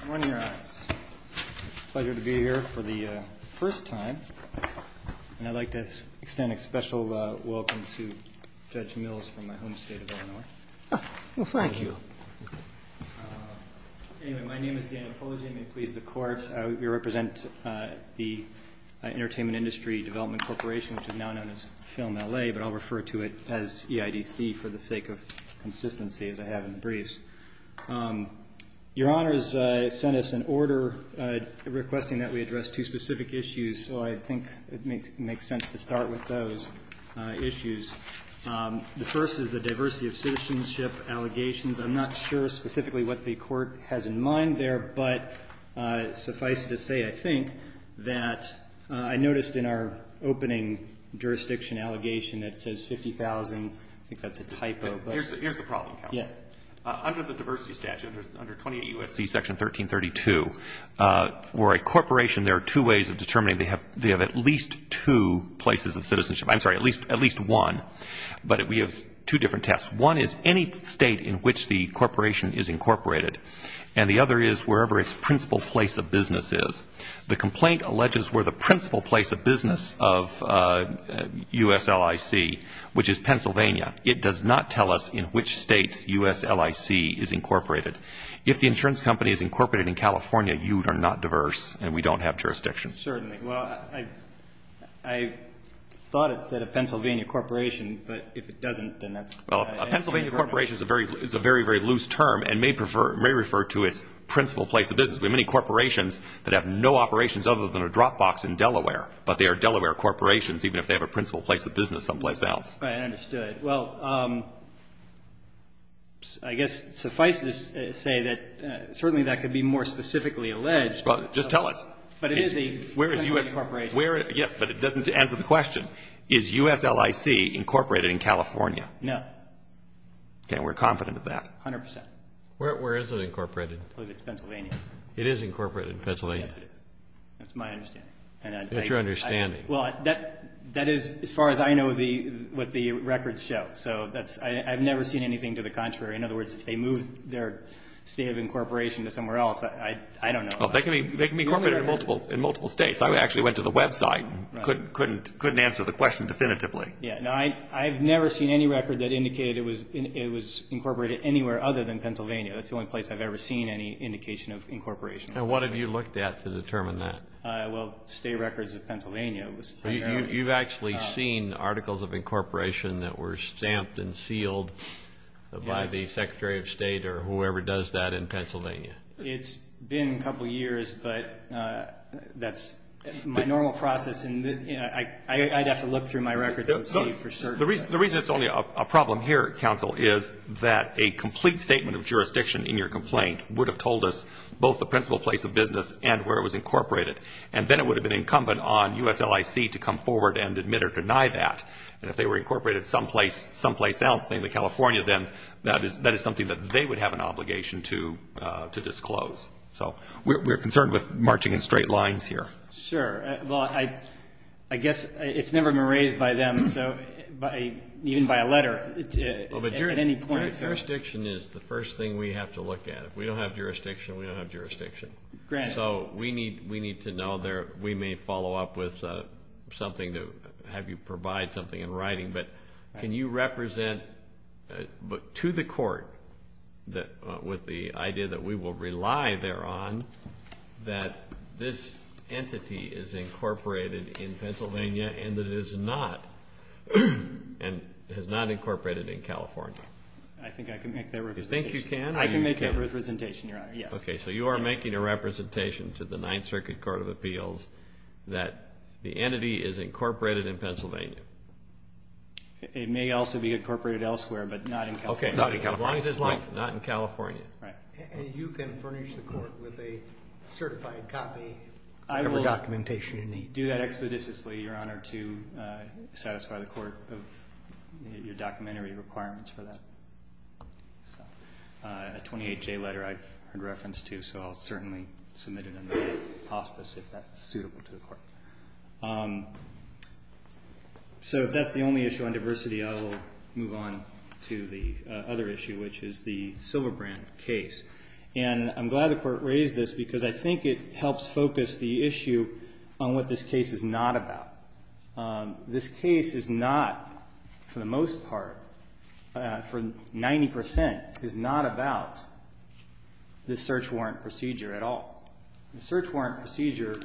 It's a pleasure to be here for the first time, and I'd like to extend a special welcome to Judge Mills from my home state of Illinois. Well, thank you. Anyway, my name is Dan Apologia. I'm going to please the Court. I represent the Entertainment Industry Development Corporation, which is now known as Film LA, but I'll refer to it as EIDC for the sake of consistency, as I have in brief. Your Honor has sent us an order requesting that we address two specific issues, so I think it makes sense to start with those issues. The first is the diversity of citizenship allegations. I'm not sure specifically what the Court has in mind there, but suffice it to say, I think, that I noticed in our opening jurisdiction allegation it says 50,000. I think that's a typo. Here's the problem, counsel. Go ahead. Under the diversity statute, under 28 U.S.C. Section 1332, for a corporation, there are two ways of determining they have at least two places of citizenship. I'm sorry, at least one, but we have two different tests. One is any state in which the corporation is incorporated, and the other is wherever its principal place of business is. The complaint alleges where the principal place of business of USLIC, which is Pennsylvania. It does not tell us in which states USLIC is incorporated. If the insurance company is incorporated in California, you are not diverse, and we don't have jurisdiction. Certainly. Well, I thought it said a Pennsylvania corporation, but if it doesn't, then that's an incorrect. Well, a Pennsylvania corporation is a very, very loose term and may refer to its principal place of business. We have many corporations that have no operations other than a drop box in Delaware, but they are Delaware corporations, even if they have a principal place of business someplace else. I understood. Well, I guess suffice it to say that certainly that could be more specifically alleged. Just tell us. But it is a Pennsylvania corporation. Yes, but it doesn't answer the question. Is USLIC incorporated in California? No. Okay. We're confident of that. A hundred percent. Where is it incorporated? It's Pennsylvania. It is incorporated in Pennsylvania? Yes, it is. That's my understanding. That's your understanding. Well, that is as far as I know what the records show. So I've never seen anything to the contrary. In other words, if they move their state of incorporation to somewhere else, I don't know. They can be incorporated in multiple states. I actually went to the website and couldn't answer the question definitively. Yes. I've never seen any record that indicated it was incorporated anywhere other than Pennsylvania. That's the only place I've ever seen any indication of incorporation. And what have you looked at to determine that? Well, state records of Pennsylvania. You've actually seen articles of incorporation that were stamped and sealed by the Secretary of State or whoever does that in Pennsylvania? It's been a couple years, but that's my normal process. I'd have to look through my records and see for certain. The reason it's only a problem here, counsel, is that a complete statement of jurisdiction in your complaint would have told us both the principal place of business and where it was incorporated. And then it would have been incumbent on USLIC to come forward and admit or deny that. And if they were incorporated someplace else, namely California, then that is something that they would have an obligation to disclose. So we're concerned with marching in straight lines here. Sure. Well, I guess it's never been raised by them, even by a letter, at any point. But jurisdiction is the first thing we have to look at. If we don't have jurisdiction, we don't have jurisdiction. Granted. So we need to know there. We may follow up with something to have you provide something in writing. But can you represent to the court with the idea that we will rely thereon that this entity is incorporated in Pennsylvania and that it is not incorporated in California? I think I can make that representation. You think you can? I can make that representation, Your Honor, yes. Okay. So you are making a representation to the Ninth Circuit Court of Appeals that the entity is incorporated in Pennsylvania. It may also be incorporated elsewhere, but not in California. Okay. Not in California. As long as it's not in California. Right. And you can furnish the court with a certified copy of the documentation you need. I will do that expeditiously, Your Honor, to satisfy the court of your documentary requirements for that. A 28-J letter I've heard reference to, so I'll certainly submit it in the hospice if that's suitable to the court. So if that's the only issue on diversity, I will move on to the other issue, which is the Silverbrand case. And I'm glad the Court raised this because I think it helps focus the issue on what this case is not about. This case is not, for the most part, for 90 percent, is not about the search warrant procedure at all. The search warrant procedure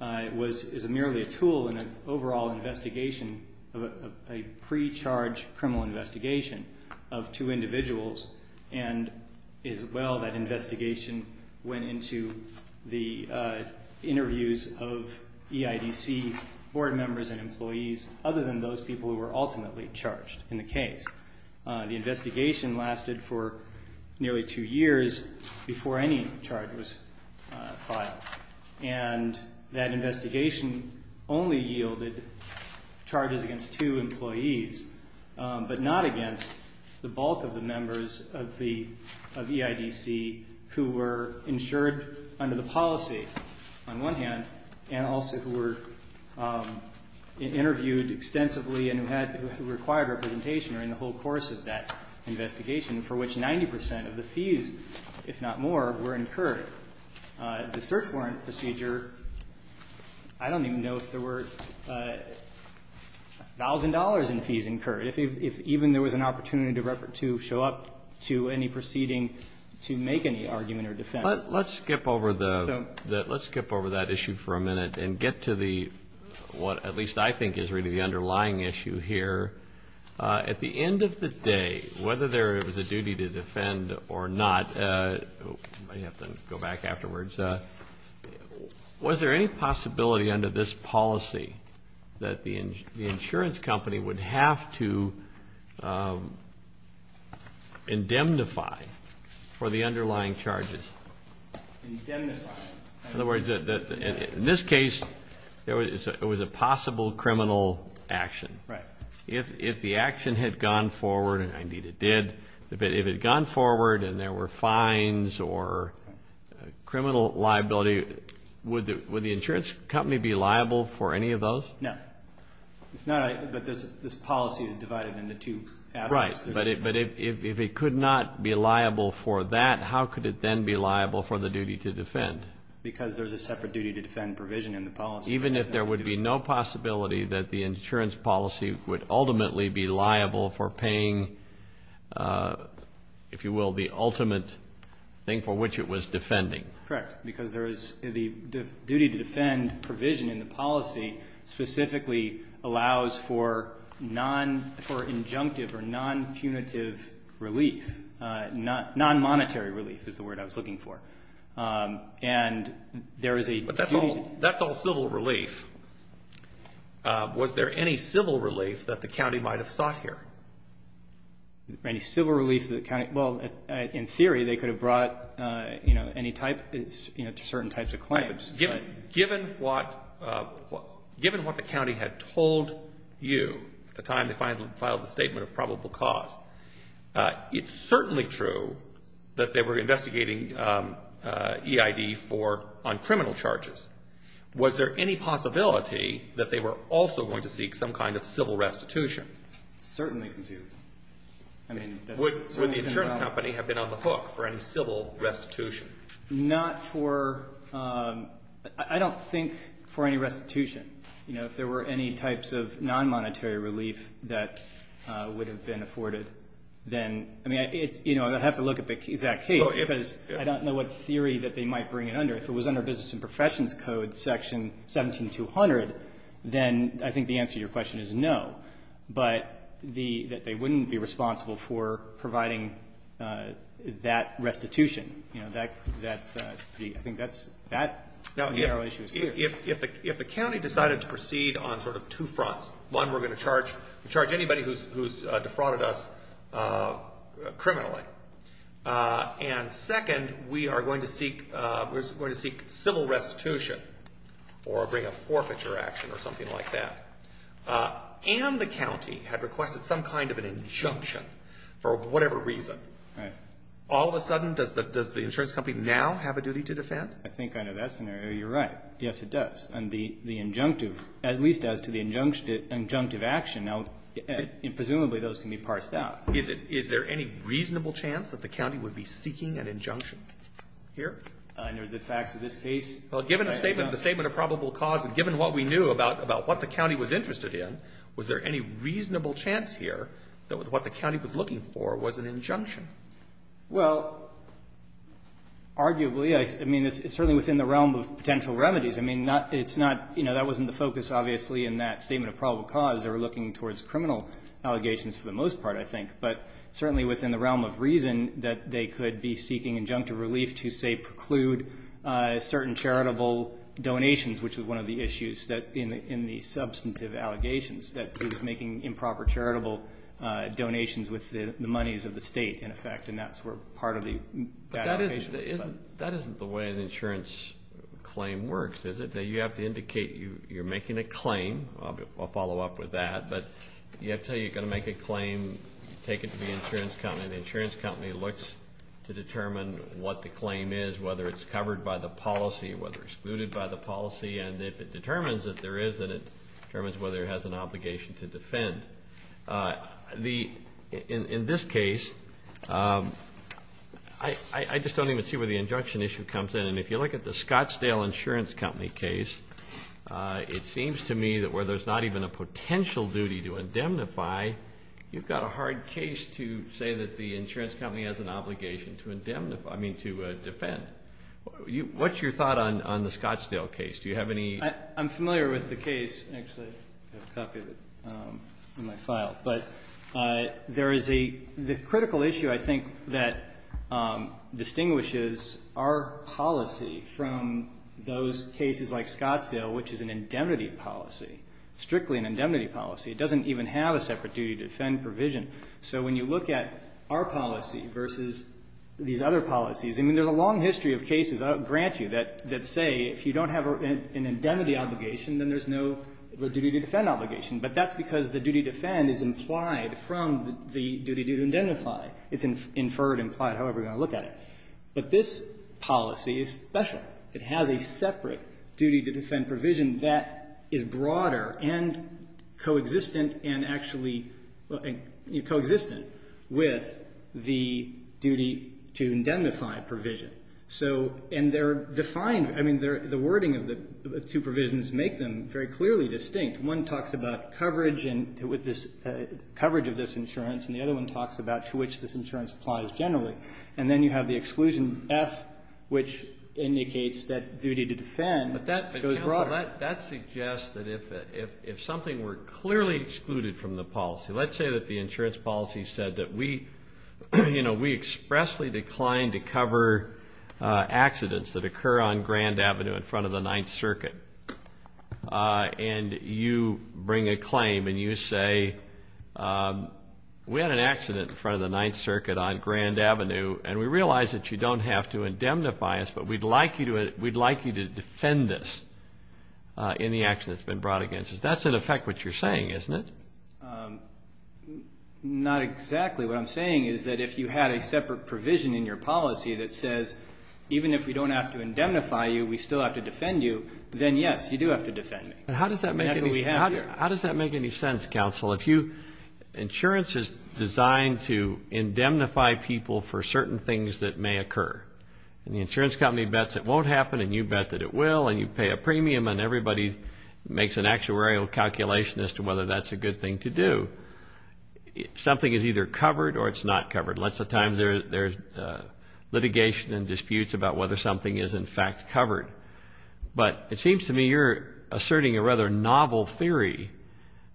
is merely a tool in an overall investigation of a pre-charge criminal investigation of two individuals, and it is well that investigation went into the interviews of EIDC board members and employees, other than those people who were ultimately charged in the case. The investigation lasted for nearly two years before any charge was filed. And that investigation only yielded charges against two employees, but not against the bulk of the members of EIDC who were insured under the policy, on one hand, and also who were interviewed extensively and who required representation during the whole course of that investigation, for which 90 percent of the fees, if not more, were incurred. The search warrant procedure, I don't even know if there were a thousand dollars in fees incurred, if even there was an opportunity to show up to any proceeding to make any argument or defense. Let's skip over that issue for a minute and get to the, what at least I think is really the underlying issue here. At the end of the day, whether there was a duty to defend or not, I have to go back afterwards, was there any possibility under this policy that the insurance company would have to indemnify for the underlying charges? Indemnify. In other words, in this case, it was a possible criminal action. Right. If the action had gone forward, and indeed it did, if it had gone forward and there were fines or criminal liability, would the insurance company be liable for any of those? No. It's not, but this policy is divided into two aspects. Right. But if it could not be liable for that, how could it then be liable for the duty to defend? Because there's a separate duty to defend provision in the policy. Even if there would be no possibility that the insurance policy would ultimately be liable for paying, if you will, the ultimate thing for which it was defending. Correct. The duty to defend provision in the policy specifically allows for non-injunctive or non-punitive relief, non-monetary relief is the word I was looking for. But that's all civil relief. Was there any civil relief that the county might have sought here? Any civil relief that the county? Well, in theory, they could have brought, you know, any type, you know, certain types of claims. Given what the county had told you at the time they filed the statement of probable cause, it's certainly true that they were investigating EID on criminal charges. Was there any possibility that they were also going to seek some kind of civil restitution? Certainly conceivable. Would the insurance company have been on the hook for any civil restitution? Not for, I don't think for any restitution. You know, if there were any types of non-monetary relief that would have been afforded, then, I mean, you know, I'd have to look at the exact case because I don't know what theory that they might bring it under. If it was under Business and Professions Code Section 17200, then I think the answer to your question is no. But that they wouldn't be responsible for providing that restitution. You know, I think that's that narrow issue. If the county decided to proceed on sort of two fronts, one, we're going to charge anybody who's defrauded us criminally. And second, we are going to seek civil restitution or bring a forfeiture action or something like that. And the county had requested some kind of an injunction for whatever reason. All of a sudden, does the insurance company now have a duty to defend? I think under that scenario, you're right. Yes, it does. And the injunctive, at least as to the injunctive action, now, presumably those can be parsed out. Is there any reasonable chance that the county would be seeking an injunction here? Under the facts of this case? Well, given the statement of probable cause and given what we knew about what the county was interested in, was there any reasonable chance here that what the county was looking for was an injunction? Well, arguably. I mean, it's certainly within the realm of potential remedies. I mean, it's not, you know, that wasn't the focus, obviously, in that statement of probable cause. They were looking towards criminal allegations for the most part, I think. But certainly within the realm of reason that they could be seeking injunctive relief to, say, preclude certain charitable donations, which was one of the issues in the substantive allegations, that it was making improper charitable donations with the monies of the state, in effect. And that's where part of the bad allocation was spent. But that isn't the way an insurance claim works, is it? You have to indicate you're making a claim. I'll follow up with that. But you have to tell you you're going to make a claim, take it to the insurance company. And the insurance company looks to determine what the claim is, whether it's covered by the policy, whether it's excluded by the policy. And if it determines that there is, then it determines whether it has an obligation to defend. In this case, I just don't even see where the injunction issue comes in. And if you look at the Scottsdale Insurance Company case, it seems to me that where there's not even a potential duty to indemnify, you've got a hard case to say that the insurance company has an obligation to defend. What's your thought on the Scottsdale case? Do you have any? I'm familiar with the case. Actually, I have a copy of it in my file. But there is a critical issue, I think, that distinguishes our policy from those cases like Scottsdale, which is an indemnity policy, strictly an indemnity policy. It doesn't even have a separate duty to defend provision. So when you look at our policy versus these other policies, I mean, there's a long history of cases, I'll grant you, that say if you don't have an indemnity obligation, then there's no duty to defend obligation. But that's because the duty to defend is implied from the duty to indemnify. It's inferred, implied, however you want to look at it. But this policy is special. It has a separate duty to defend provision that is broader and co-existent and actually co-existent with the duty to indemnify provision. So and they're defined, I mean, the wording of the two provisions make them very clearly distinct. One talks about coverage and coverage of this insurance, and the other one talks about to which this insurance applies generally. And then you have the exclusion F, which indicates that duty to defend goes broader. But that suggests that if something were clearly excluded from the policy, let's say that the insurance policy said that we expressly declined to cover accidents that occur on Grand Avenue in front of the Ninth Circuit, and you bring a claim and you say we had an accident in front of the Ninth Circuit on Grand Avenue, and we realize that you don't have to indemnify us, but we'd like you to defend this in the accident that's been brought against us. That's, in effect, what you're saying, isn't it? Not exactly. What I'm saying is that if you had a separate provision in your policy that says even if we don't have to indemnify you, we still have to defend you, then, yes, you do have to defend me. How does that make any sense, counsel? Insurance is designed to indemnify people for certain things that may occur. And the insurance company bets it won't happen, and you bet that it will, and you pay a premium and everybody makes an actuarial calculation as to whether that's a good thing to do. Something is either covered or it's not covered. Lots of times there's litigation and disputes about whether something is, in fact, covered. But it seems to me you're asserting a rather novel theory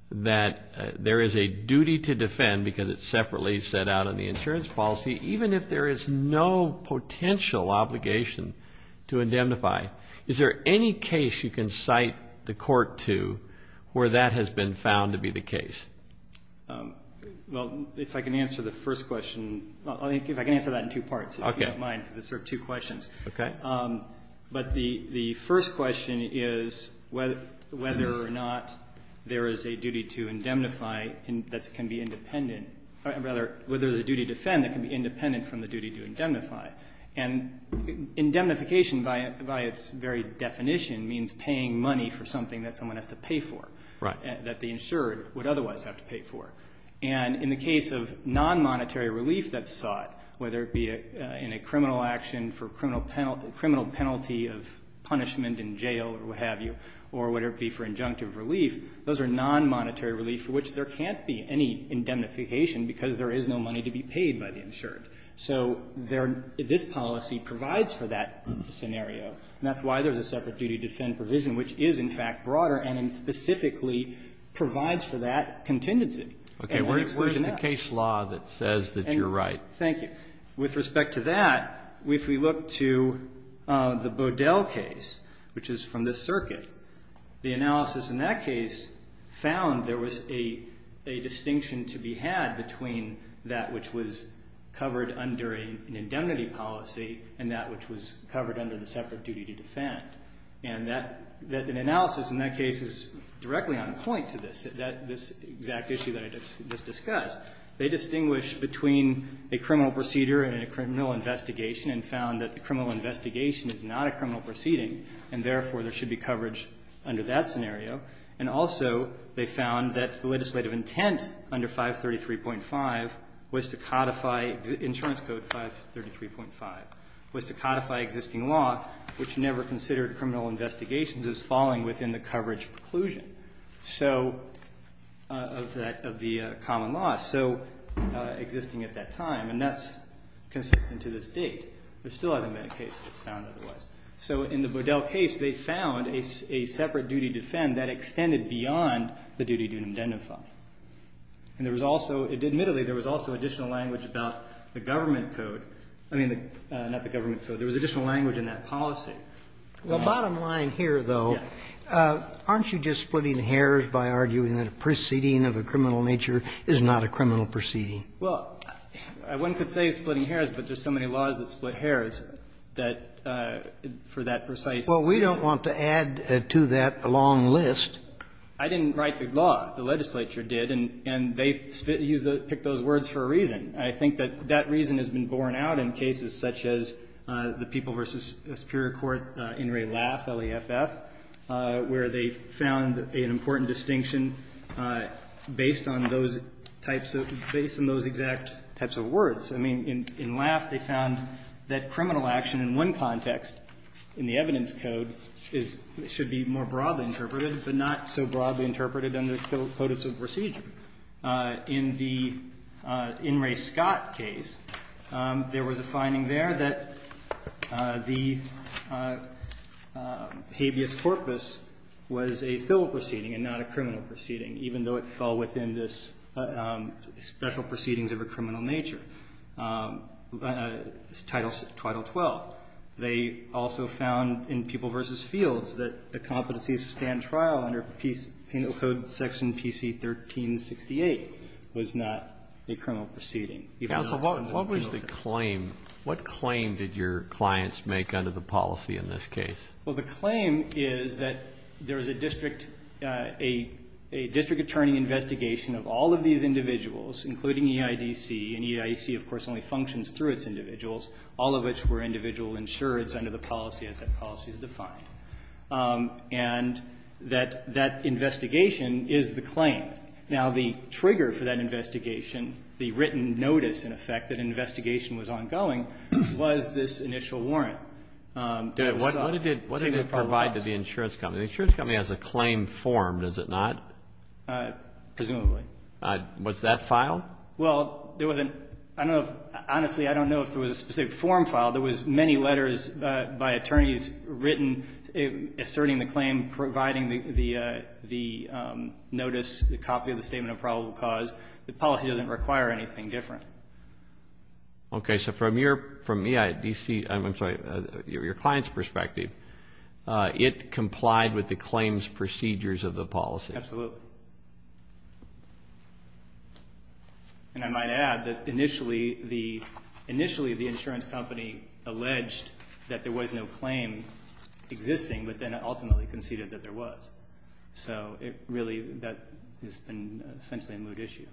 that there is a duty to defend because it's separately set out in the insurance policy even if there is no potential obligation to indemnify. Is there any case you can cite the court to where that has been found to be the case? Well, if I can answer the first question. If I can answer that in two parts, if you don't mind, because it's sort of two questions. Okay. But the first question is whether or not there is a duty to defend that can be independent from the duty to indemnify. And indemnification by its very definition means paying money for something that someone has to pay for. Right. That the insured would otherwise have to pay for. And in the case of non-monetary relief that's sought, whether it be in a criminal action for criminal penalty of punishment in jail or what have you, or whether it be for injunctive relief, those are non-monetary relief for which there can't be any indemnification because there is no money to be paid by the insured. So this policy provides for that scenario, and that's why there's a separate duty to defend provision, which is, in fact, broader and specifically provides for that contingency. Okay. Where's the case law that says that you're right? Thank you. With respect to that, if we look to the Bodell case, which is from this circuit, the analysis in that case found there was a distinction to be had between that which was covered under an indemnity policy and that which was covered under the separate duty to defend. And that analysis in that case is directly on point to this, this exact issue that I just discussed. They distinguish between a criminal procedure and a criminal investigation and found that the criminal investigation is not a criminal proceeding, and therefore there should be coverage under that scenario. And also they found that the legislative intent under 533.5 was to codify insurance code 533.5 was to codify existing law, which never considered criminal investigations as falling within the coverage preclusion of the common law. So existing at that time, and that's consistent to this date. There still hasn't been a case found otherwise. So in the Bodell case, they found a separate duty to defend that extended beyond the duty to indemnify. And there was also, admittedly, there was also additional language about the government code, I mean, not the government code. There was additional language in that policy. Roberts. Well, bottom line here, though, aren't you just splitting hairs by arguing that a proceeding of a criminal nature is not a criminal proceeding? Well, one could say splitting hairs, but there's so many laws that split hairs that for that precise reason. Well, we don't want to add to that long list. I didn't write the law. The legislature did, and they picked those words for a reason. I think that that reason has been borne out in cases such as the People v. Superior Court, In re Laff, L-E-F-F, where they found an important distinction based on those types of – based on those exact types of words. I mean, in Laff, they found that criminal action in one context in the evidence code is – should be more broadly interpreted, but not so broadly interpreted under the codice of procedure. In the In re Scott case, there was a finding there that the habeas corpus was a civil proceeding and not a criminal proceeding, even though it fell within this special proceedings of a criminal nature, Title 12. They also found in People v. Fields that the competency to stand trial under penal code section PC-1368 was not a criminal proceeding. Even though it's under the penal code. Kennedy, what was the claim? What claim did your clients make under the policy in this case? Well, the claim is that there is a district – a district attorney investigation of all of these individuals, including EIDC, and EIDC, of course, only functions through its individuals, all of which were individual insureds under the policy as that policy is defined. And that that investigation is the claim. Now, the trigger for that investigation, the written notice, in effect, that investigation was ongoing, was this initial warrant. What did it provide to the insurance company? The insurance company has a claim formed, does it not? Presumably. Was that filed? Well, there wasn't – I don't know if – honestly, I don't know if there was a specific form filed. There was many letters by attorneys written asserting the claim, providing the notice, the copy of the statement of probable cause. The policy doesn't require anything different. Okay. So from your – from EIDC – I'm sorry, your client's perspective, it complied with the claims procedures of the policy. Absolutely. And I might add that initially the insurance company alleged that there was no claim existing, but then ultimately conceded that there was. So it really – that has been essentially a moot issue.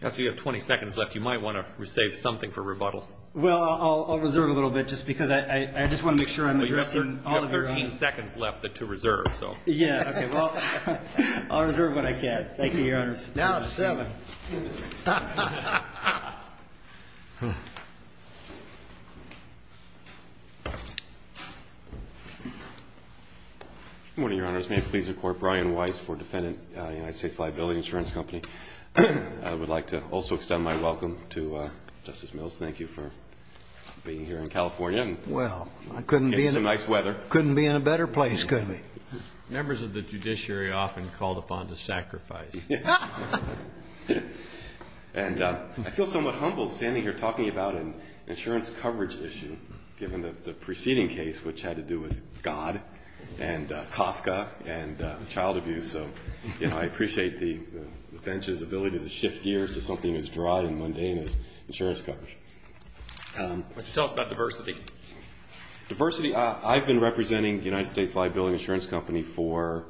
If you have 20 seconds left, you might want to save something for rebuttal. Well, I'll reserve a little bit just because I just want to make sure I'm addressing all of your Yeah, okay. Well, I'll reserve what I can. Thank you, Your Honors. Now it's 7. Good morning, Your Honors. May it please the Court, Brian Weiss for defendant, United States Liability Insurance Company. I would like to also extend my welcome to Justice Mills. Thank you for being here in California and getting some nice weather. Couldn't be in a better place, could we? Members of the judiciary often called upon to sacrifice. And I feel somewhat humbled standing here talking about an insurance coverage issue, given the preceding case, which had to do with God and Kafka and child abuse. So, you know, I appreciate the bench's ability to shift gears to something as dry and mundane as insurance coverage. Why don't you tell us about diversity? Diversity, I've been representing United States Liability Insurance Company for,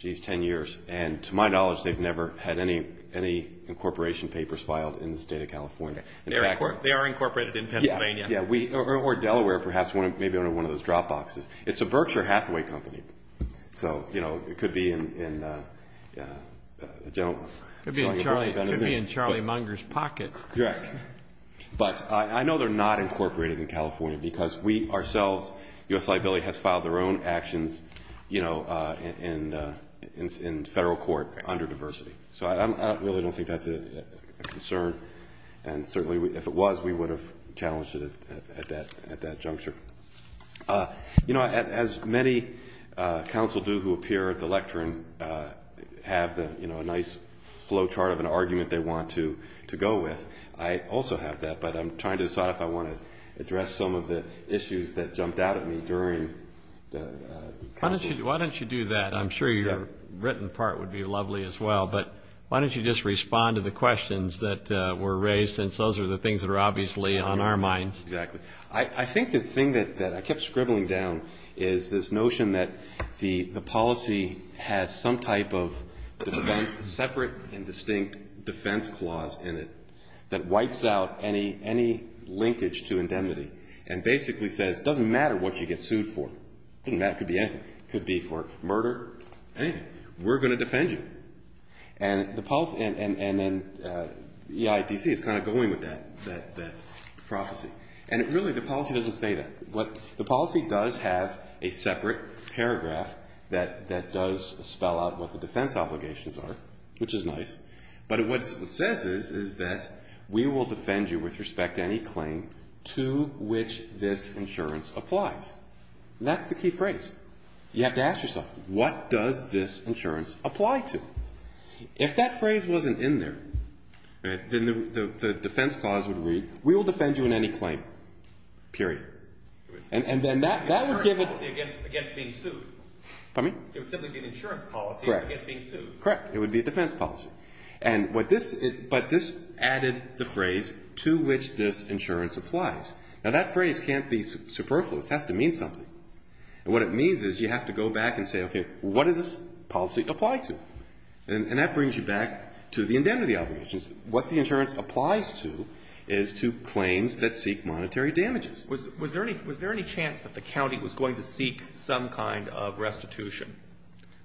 jeez, 10 years. And to my knowledge, they've never had any incorporation papers filed in the State of California. They are incorporated in Pennsylvania. Or Delaware, perhaps, maybe one of those drop boxes. It's a Berkshire Hathaway company. So, you know, it could be in a gentleman's pocket. It could be in Charlie Munger's pocket. Correct. But I know they're not incorporated in California because we ourselves, U.S. Liability has filed their own actions, you know, in federal court under diversity. So I really don't think that's a concern. And certainly if it was, we would have challenged it at that juncture. You know, as many counsel do who appear at the lectern have, you know, a nice flow chart of an argument they want to go with. I also have that, but I'm trying to decide if I want to address some of the issues that jumped out at me during the council. Why don't you do that? I'm sure your written part would be lovely as well. But why don't you just respond to the questions that were raised, since those are the things that are obviously on our minds. Exactly. I think the thing that I kept scribbling down is this notion that the policy has some type of defense, separate and distinct defense clause in it, that wipes out any linkage to indemnity and basically says, it doesn't matter what you get sued for. That could be anything. It could be for murder, anything. We're going to defend you. And then EIDC is kind of going with that prophecy. And really the policy doesn't say that. The policy does have a separate paragraph that does spell out what the defense obligations are, which is nice. But what it says is that we will defend you with respect to any claim to which this insurance applies. That's the key phrase. You have to ask yourself, what does this insurance apply to? If that phrase wasn't in there, then the defense clause would read, we will defend you in any claim, period. And then that would give it. Against being sued. Pardon me? It would simply be an insurance policy against being sued. Correct. It would be a defense policy. But this added the phrase to which this insurance applies. Now that phrase can't be superfluous. It has to mean something. And what it means is you have to go back and say, okay, what does this policy apply to? And that brings you back to the indemnity obligations. What the insurance applies to is to claims that seek monetary damages. Was there any chance that the county was going to seek some kind of restitution?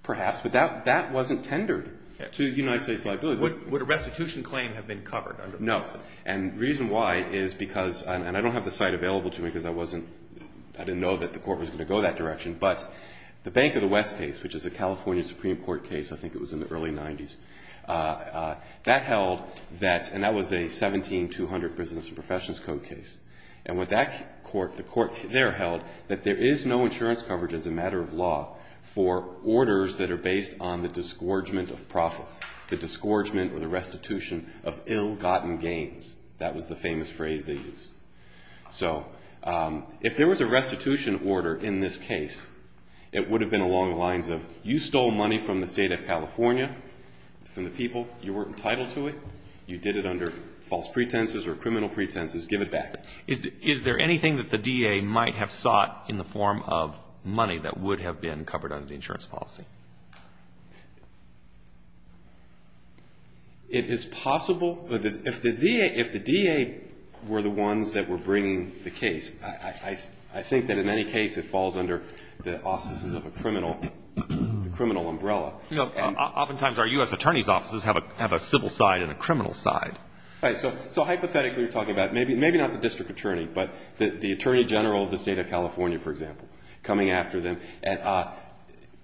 Perhaps. But that wasn't tendered to the United States liability. Would a restitution claim have been covered? No. And the reason why is because, and I don't have the site available to me because I didn't know that the court was going to go that direction, but the Bank of the West case, which is a California Supreme Court case, I think it was in the early 1990s, that held that, and that was a 17200 Business and Professionals Code case. And what that court, the court there held that there is no insurance coverage as a matter of law for orders that are based on the disgorgement of profits, the disgorgement or the restitution of ill-gotten gains. That was the famous phrase they used. So if there was a restitution order in this case, it would have been along the lines of you stole money from the State of California, from the people, you weren't entitled to it, you did it under false pretenses or criminal pretenses, give it back. Is there anything that the DA might have sought in the form of money that would have been covered under the insurance policy? It is possible. If the DA were the ones that were bringing the case, I think that in any case it would have been in the auspices of a criminal umbrella. Oftentimes our U.S. Attorney's offices have a civil side and a criminal side. Right. So hypothetically you're talking about, maybe not the District Attorney, but the Attorney General of the State of California, for example, coming after them.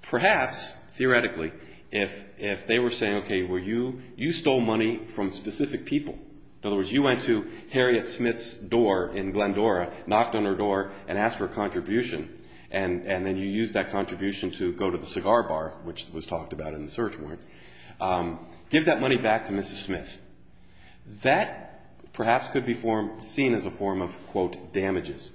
Perhaps, theoretically, if they were saying, okay, well, you stole money from specific people, in other words, you went to Harriet Smith's door in Glendora, knocked on her door, and asked for a contribution, and then you used that contribution to go to the cigar bar, which was talked about in the search warrant, give that money back to Mrs. Smith. That perhaps could be seen as a form of, quote, damages,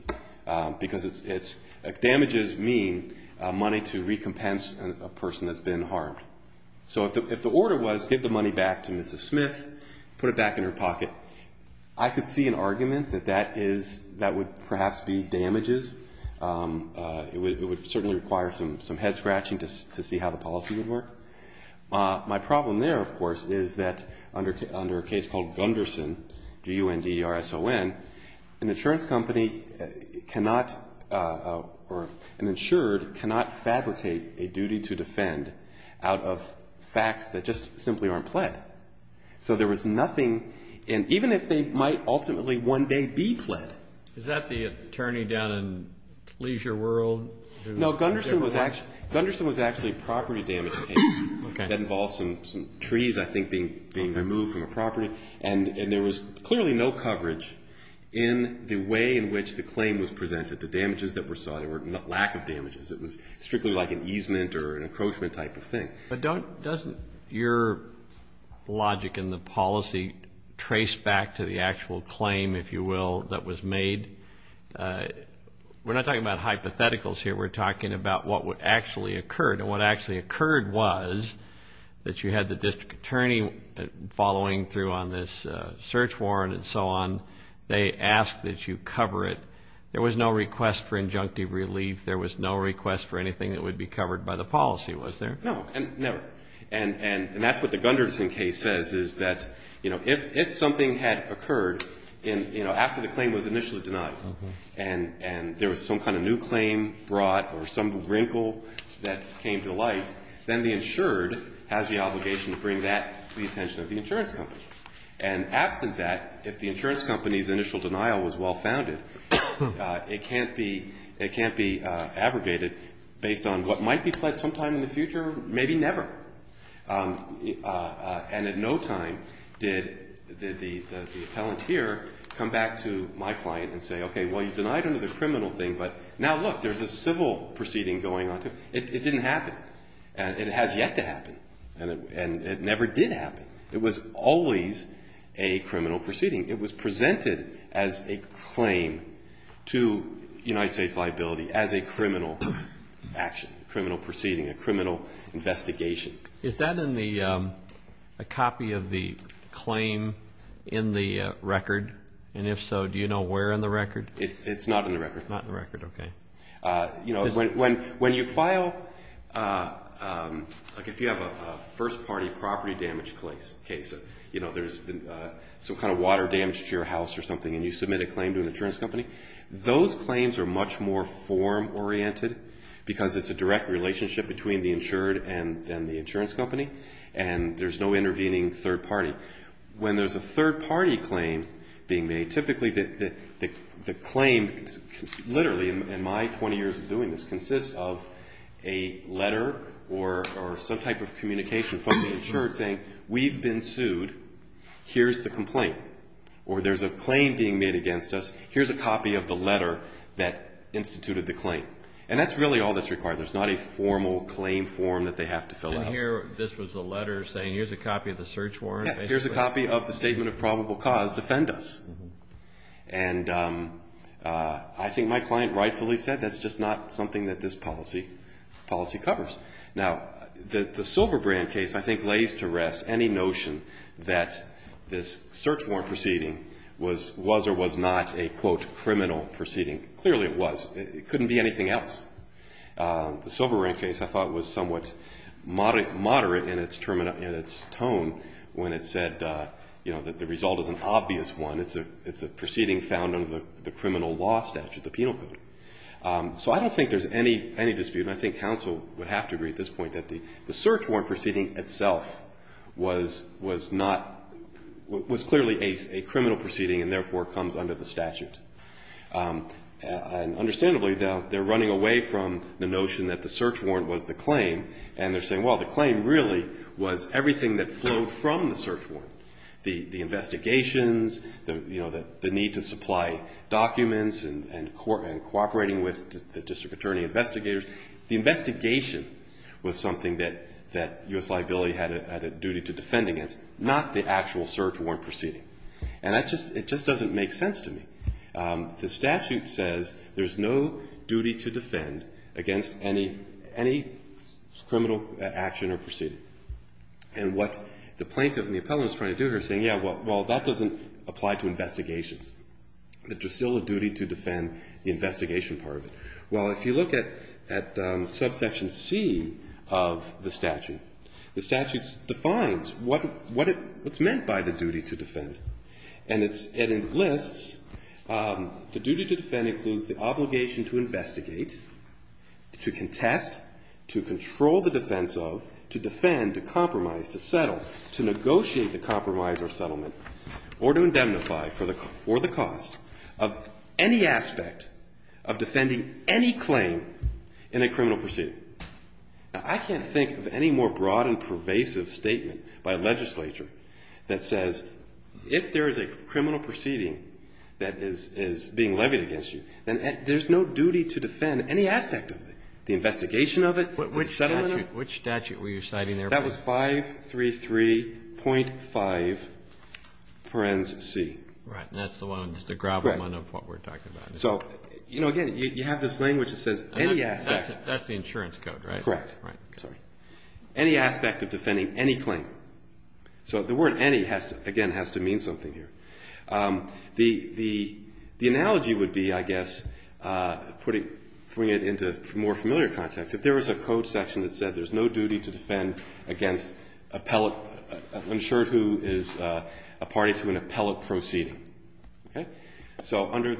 because damages mean money to recompense a person that's been harmed. So if the order was give the money back to Mrs. Smith, put it back in her pocket, I could see an argument that that is, that would perhaps be damages. It would certainly require some head scratching to see how the policy would work. My problem there, of course, is that under a case called Gunderson, G-U-N-D-E-R-S-O-N, an insurance company cannot, or an insured cannot fabricate a duty to defend out of facts that just simply aren't pled. So there was nothing, and even if they might ultimately one day be pled. Is that the attorney down in Leisure World? No, Gunderson was actually a property damage case. Okay. That involves some trees, I think, being removed from a property, and there was clearly no coverage in the way in which the claim was presented, the damages that were sought, or lack of damages. It was strictly like an easement or an encroachment type of thing. But doesn't your logic in the policy trace back to the actual claim, if you will, that was made? We're not talking about hypotheticals here. We're talking about what actually occurred, and what actually occurred was that you had the district attorney following through on this search warrant and so on. They asked that you cover it. There was no request for injunctive relief. There was no request for anything that would be covered by the policy, was there? No, never. And that's what the Gunderson case says, is that if something had occurred after the claim was initially denied, and there was some kind of new claim brought or some wrinkle that came to light, then the insured has the obligation to bring that to the attention of the insurance company. And absent that, if the insurance company's initial denial was well founded, it can't be abrogated based on what might be pled sometime in the future, maybe never. And at no time did the appellant here come back to my client and say, okay, well, you denied another criminal thing, but now look, there's a civil proceeding going on. It didn't happen. And it has yet to happen. And it never did happen. It was always a criminal proceeding. It was presented as a claim to United States liability as a criminal action, criminal proceeding, a criminal investigation. Is that in the copy of the claim in the record? And if so, do you know where in the record? It's not in the record. Not in the record, okay. You know, when you file, like if you have a first-party property damage case, you know, there's been some kind of water damage to your house or something, and you submit a claim to an insurance company, those claims are much more form-oriented because it's a direct relationship between the insured and the insurance company, and there's no intervening third party. When there's a third-party claim being made, typically the claim, literally in my 20 years of doing this, consists of a letter or some type of communication from the insured, here's the complaint, or there's a claim being made against us, here's a copy of the letter that instituted the claim. And that's really all that's required. There's not a formal claim form that they have to fill out. So here, this was a letter saying here's a copy of the search warrant? Yeah, here's a copy of the statement of probable cause. Defend us. And I think my client rightfully said that's just not something that this policy covers. Now, the Silverbrand case I think lays to rest any notion that this search warrant proceeding was or was not a, quote, criminal proceeding. Clearly it was. It couldn't be anything else. The Silverbrand case I thought was somewhat moderate in its tone when it said, you know, that the result is an obvious one. It's a proceeding found under the criminal law statute, the penal code. So I don't think there's any dispute, and I think counsel would have to agree at this point, that the search warrant proceeding itself was not, was clearly a criminal proceeding and therefore comes under the statute. And understandably, they're running away from the notion that the search warrant was the claim, and they're saying, well, the claim really was everything that flowed from the search warrant, the investigations, you know, the need to supply documents and cooperating with the district attorney investigators. The investigation was something that U.S. Liability had a duty to defend against, not the actual search warrant proceeding. And that just, it just doesn't make sense to me. The statute says there's no duty to defend against any criminal action or proceeding. And what the plaintiff and the appellant is trying to do here is saying, yeah, well, that doesn't apply to investigations. That there's still a duty to defend the investigation part of it. Well, if you look at, at subsection C of the statute, the statute defines what, what it, what's meant by the duty to defend. And it's, and it lists, the duty to defend includes the obligation to investigate, to contest, to control the defense of, to defend, to compromise, to settle, to negotiate the compromise or settlement, or to indemnify for the, for the cost of any aspect of defending any claim in a criminal proceeding. Now, I can't think of any more broad and pervasive statement by a legislature that says if there is a criminal proceeding that is, is being levied against you, then there's no duty to defend any aspect of it, the investigation of it, the settlement of it. Which statute were you citing there? That was 533.5 parens C. Right. And that's the one, the grapplement of what we're talking about. So, you know, again, you have this language that says any aspect. That's the insurance code, right? Correct. Right. Sorry. Any aspect of defending any claim. So the word any has to, again, has to mean something here. The, the, the analogy would be, I guess, putting, putting it into more familiar context. If there was a code section that said there's no duty to defend against appellate, insured who is a party to an appellate proceeding. Okay? So under,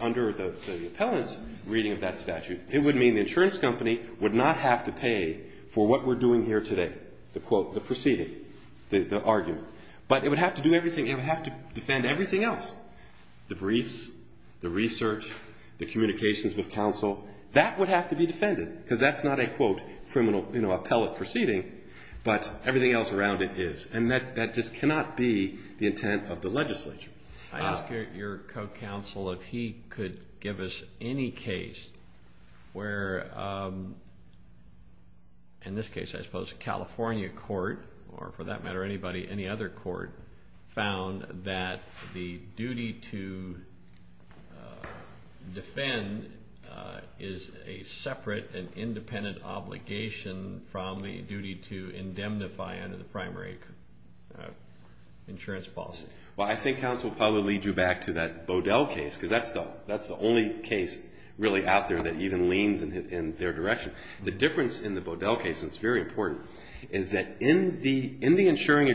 under the, the appellant's reading of that statute, it would mean the insurance company would not have to pay for what we're doing here today, the quote, the proceeding, the, the argument. But it would have to do everything. It would have to defend everything else, the briefs, the research, the communications with counsel. That would have to be defended. Because that's not a quote criminal, you know, appellate proceeding. But everything else around it is. And that, that just cannot be the intent of the legislature. I ask your, your co-counsel if he could give us any case where, in this case, I suppose, California court, or for that matter anybody, any other court, found that the duty to defend is a separate and independent obligation from the duty to indemnify under the primary insurance policy. Well, I think counsel will probably lead you back to that Bodell case, because that's the, that's the only case really out there that even leans in their direction. The difference in the Bodell case, and it's very important, is that in the, in the insuring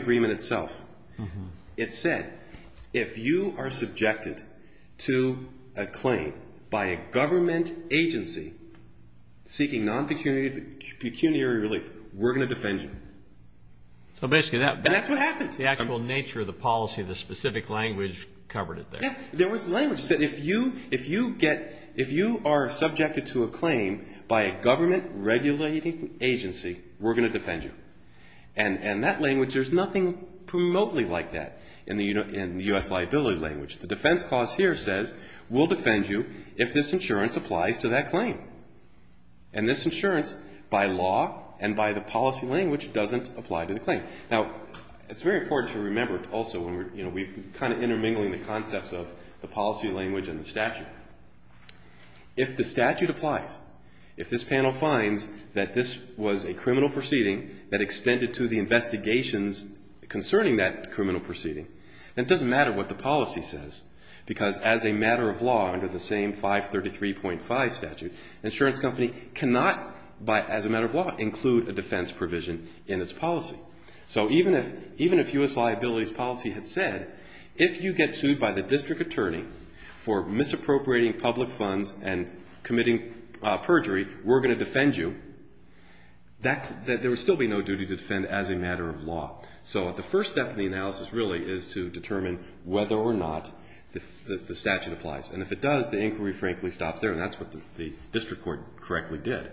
It said, if you are subjected to a claim by a government agency seeking non-pecuniary relief, we're going to defend you. So basically that, that's what happened. That's what happened. The actual nature of the policy, the specific language covered it there. Yeah, there was language that said if you, if you get, if you are subjected to a claim by a government regulating agency, we're going to defend you. And, and that language, there's nothing promotely like that in the, in the U.S. liability language. The defense clause here says we'll defend you if this insurance applies to that claim. And this insurance, by law and by the policy language, doesn't apply to the claim. Now, it's very important to remember also when we're, you know, we've kind of intermingling the concepts of the policy language and the statute. If the statute applies, if this panel finds that this was a criminal proceeding that extended to the investigations concerning that criminal proceeding, then it doesn't matter what the policy says. Because as a matter of law, under the same 533.5 statute, an insurance company cannot, by, as a matter of law, include a defense provision in its policy. So even if, even if U.S. liability's policy had said, if you get sued by the district attorney for misappropriating public funds and committing perjury, we're going to defend you, that, there would still be no duty to defend as a matter of law. So the first step in the analysis really is to determine whether or not the statute applies. And if it does, the inquiry frankly stops there. And that's what the district court correctly did.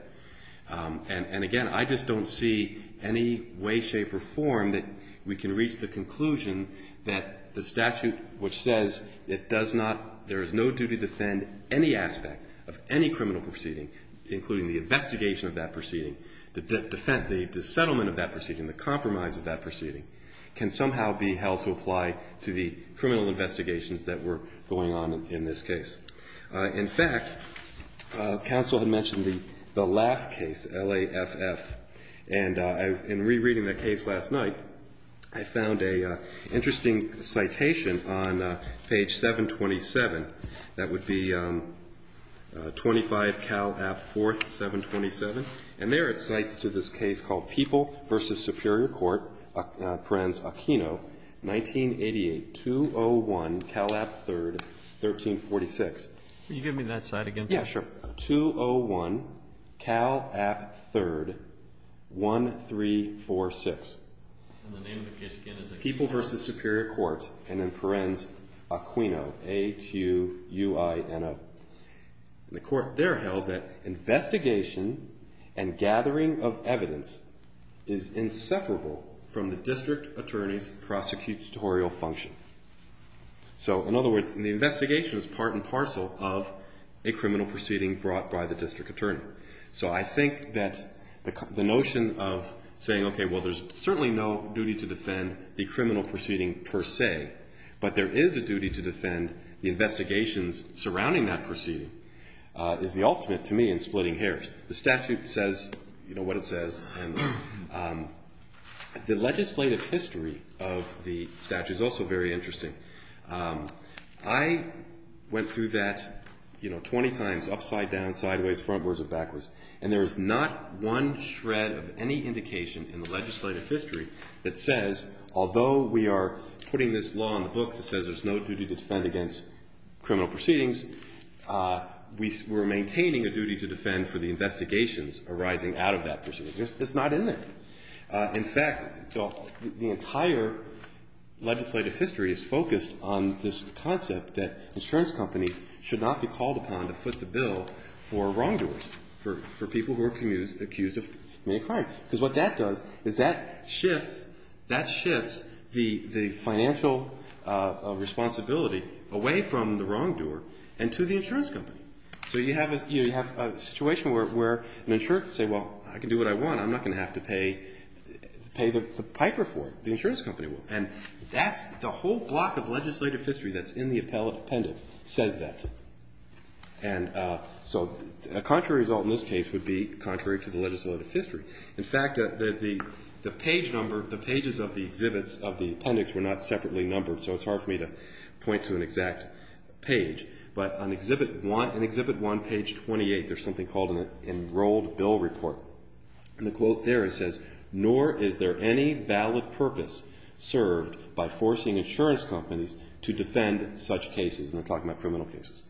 And, and again, I just don't see any way, shape, or form that we can reach the conclusion that the statute which says it does not, there is no duty to defend any aspect of any criminal proceeding, including the investigation of that proceeding, the defense, the settlement of that proceeding, the compromise of that proceeding, can somehow be held to apply to the criminal investigations that were going on in this case. In fact, counsel had mentioned the, the Laff case, L-A-F-F. And in rereading the case last night, I found an interesting citation on page 727. That would be 25 Cal. App. 4th, 727. And there it cites to this case called People v. Superior Court, Prenz Aquino, 1988, 201 Cal. App. 3rd, 1346. Can you give me that slide again? Yeah, sure. So, 201 Cal. App. 3rd, 1346. And the name of the case again is People v. Superior Court, and in Prenz Aquino, A-Q-U-I-N-O. The court there held that investigation and gathering of evidence is inseparable from the district attorney's prosecutorial function. So, in other words, the investigation is part and parcel of a criminal proceeding brought by the district attorney. So I think that the notion of saying, okay, well, there's certainly no duty to defend the criminal proceeding per se, but there is a duty to defend the investigations surrounding that proceeding, is the ultimate, to me, in splitting hairs. The statute says, you know, what it says. The legislative history of the statute is also very interesting. I went through that, you know, 20 times, upside down, sideways, frontwards, or backwards, and there is not one shred of any indication in the legislative history that says, although we are putting this law in the books that says there's no duty to defend against criminal proceedings, we're maintaining a duty to defend for the investigations arising out of that proceeding. It's not in there. In fact, the entire legislative history is focused on this concept that insurance companies should not be called upon to foot the bill for wrongdoers, because what that does is that shifts the financial responsibility away from the wrongdoer and to the insurance company. So you have a situation where an insurer can say, well, I can do what I want. I'm not going to have to pay the piper for it. The insurance company will. And that's the whole block of legislative history that's in the appendix says that. And so a contrary result in this case would be contrary to the legislative history. In fact, the page number, the pages of the exhibits of the appendix were not separately numbered, so it's hard for me to point to an exact page. But on Exhibit 1, page 28, there's something called an enrolled bill report. And the quote there, it says, nor is there any valid purpose served by forcing insurance companies to defend such cases. And they're talking about criminal cases.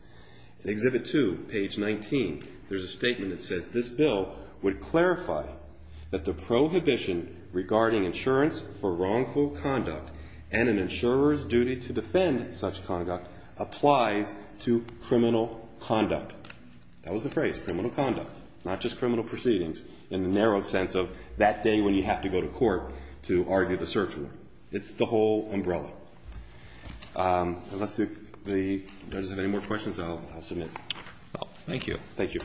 In Exhibit 2, page 19, there's a statement that says, this bill would clarify that the prohibition regarding insurance for wrongful conduct and an insurer's duty to defend such conduct applies to criminal conduct. That was the phrase, criminal conduct, not just criminal proceedings, in the narrow sense of that day when you have to go to court to argue the search warrant. It's the whole umbrella. Unless the judges have any more questions, I'll submit. Thank you. Thank you.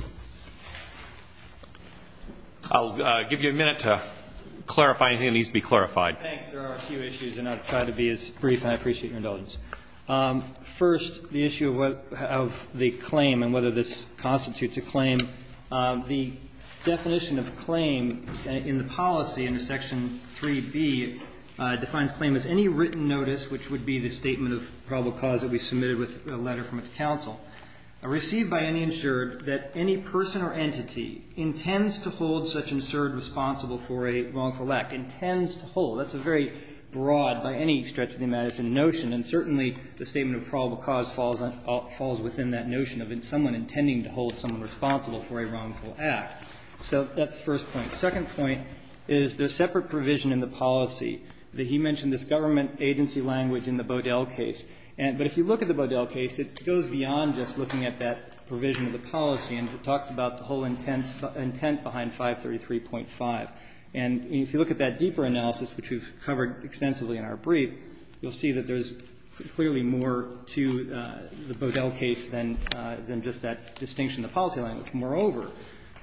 I'll give you a minute to clarify anything that needs to be clarified. Thanks. There are a few issues, and I'll try to be as brief, and I appreciate your indulgence. The definition of claim in the policy under Section 3B defines claim as any written notice, which would be the statement of probable cause that we submitted with a letter from counsel, received by any insured that any person or entity intends to hold such an insured responsible for a wrongful act, intends to hold. That's a very broad, by any stretch of the imagination, notion. And certainly the statement of probable cause falls within that notion of someone intending to hold someone responsible for a wrongful act. So that's the first point. The second point is there's separate provision in the policy that he mentioned this government agency language in the Bodell case. But if you look at the Bodell case, it goes beyond just looking at that provision of the policy, and it talks about the whole intent behind 533.5. And if you look at that deeper analysis, which we've covered extensively in our brief, you'll see that there's clearly more to the Bodell case than just that distinction in the policy language. Moreover,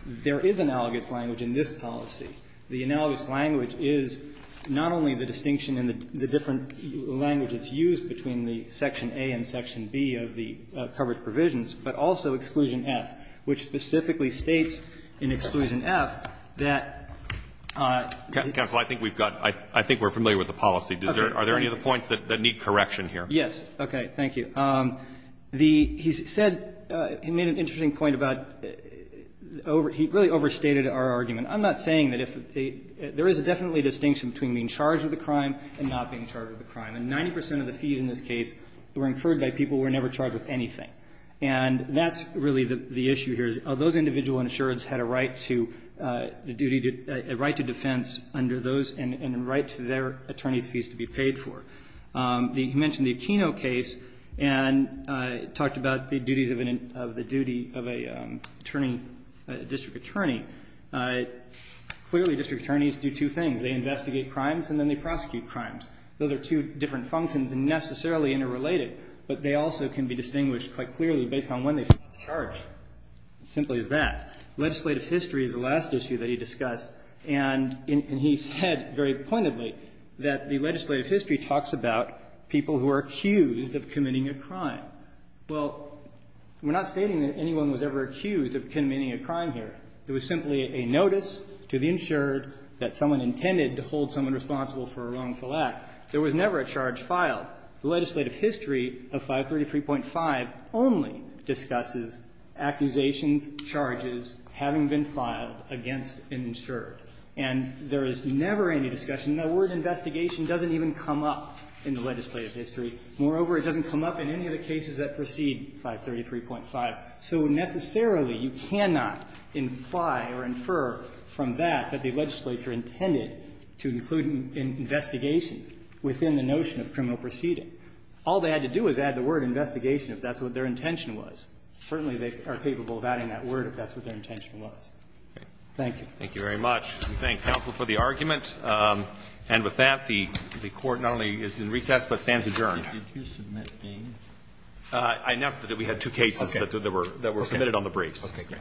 there is analogous language in this policy. The analogous language is not only the distinction in the different language that's used between the Section A and Section B of the coverage provisions, but also Exclusion F, which specifically states in Exclusion F that the government agency language is not only the language that's used between the Section A and Section B of the coverage provisions, but also Exclusion F, which specifically states in Exclusion F that the government agency language is not only the language that's used between the Section A and Section B of the coverage provisions, but also Exclusion F. He mentioned the Aquino case and talked about the duties of the duty of a district attorney. Clearly, district attorneys do two things. They investigate crimes and then they prosecute crimes. Those are two different functions and necessarily interrelated, but they also can be distinguished quite clearly based on when they file the charge. It's as simple as that. Legislative history is the last issue that he discussed, and he said very pointedly that the legislative history talks about people who are accused of committing a crime. Well, we're not stating that anyone was ever accused of committing a crime here. It was simply a notice to the insured that someone intended to hold someone responsible for a wrongful act. There was never a charge filed. The legislative history of 533.5 only discusses accusations, charges having been filed against an insured. And there is never any discussion. The word investigation doesn't even come up in the legislative history. Moreover, it doesn't come up in any of the cases that precede 533.5. So necessarily, you cannot imply or infer from that that the legislature intended to include an investigation within the notion of criminal proceeding. All they had to do was add the word investigation if that's what their intention was. Certainly, they are capable of adding that word if that's what their intention Thank you. Thank you very much. We thank counsel for the argument. And with that, the court not only is in recess, but stands adjourned. Did you submit games? Enough that we had two cases that were submitted on the briefs. Okay, great. All rise. Court is in session. Stand adjourned.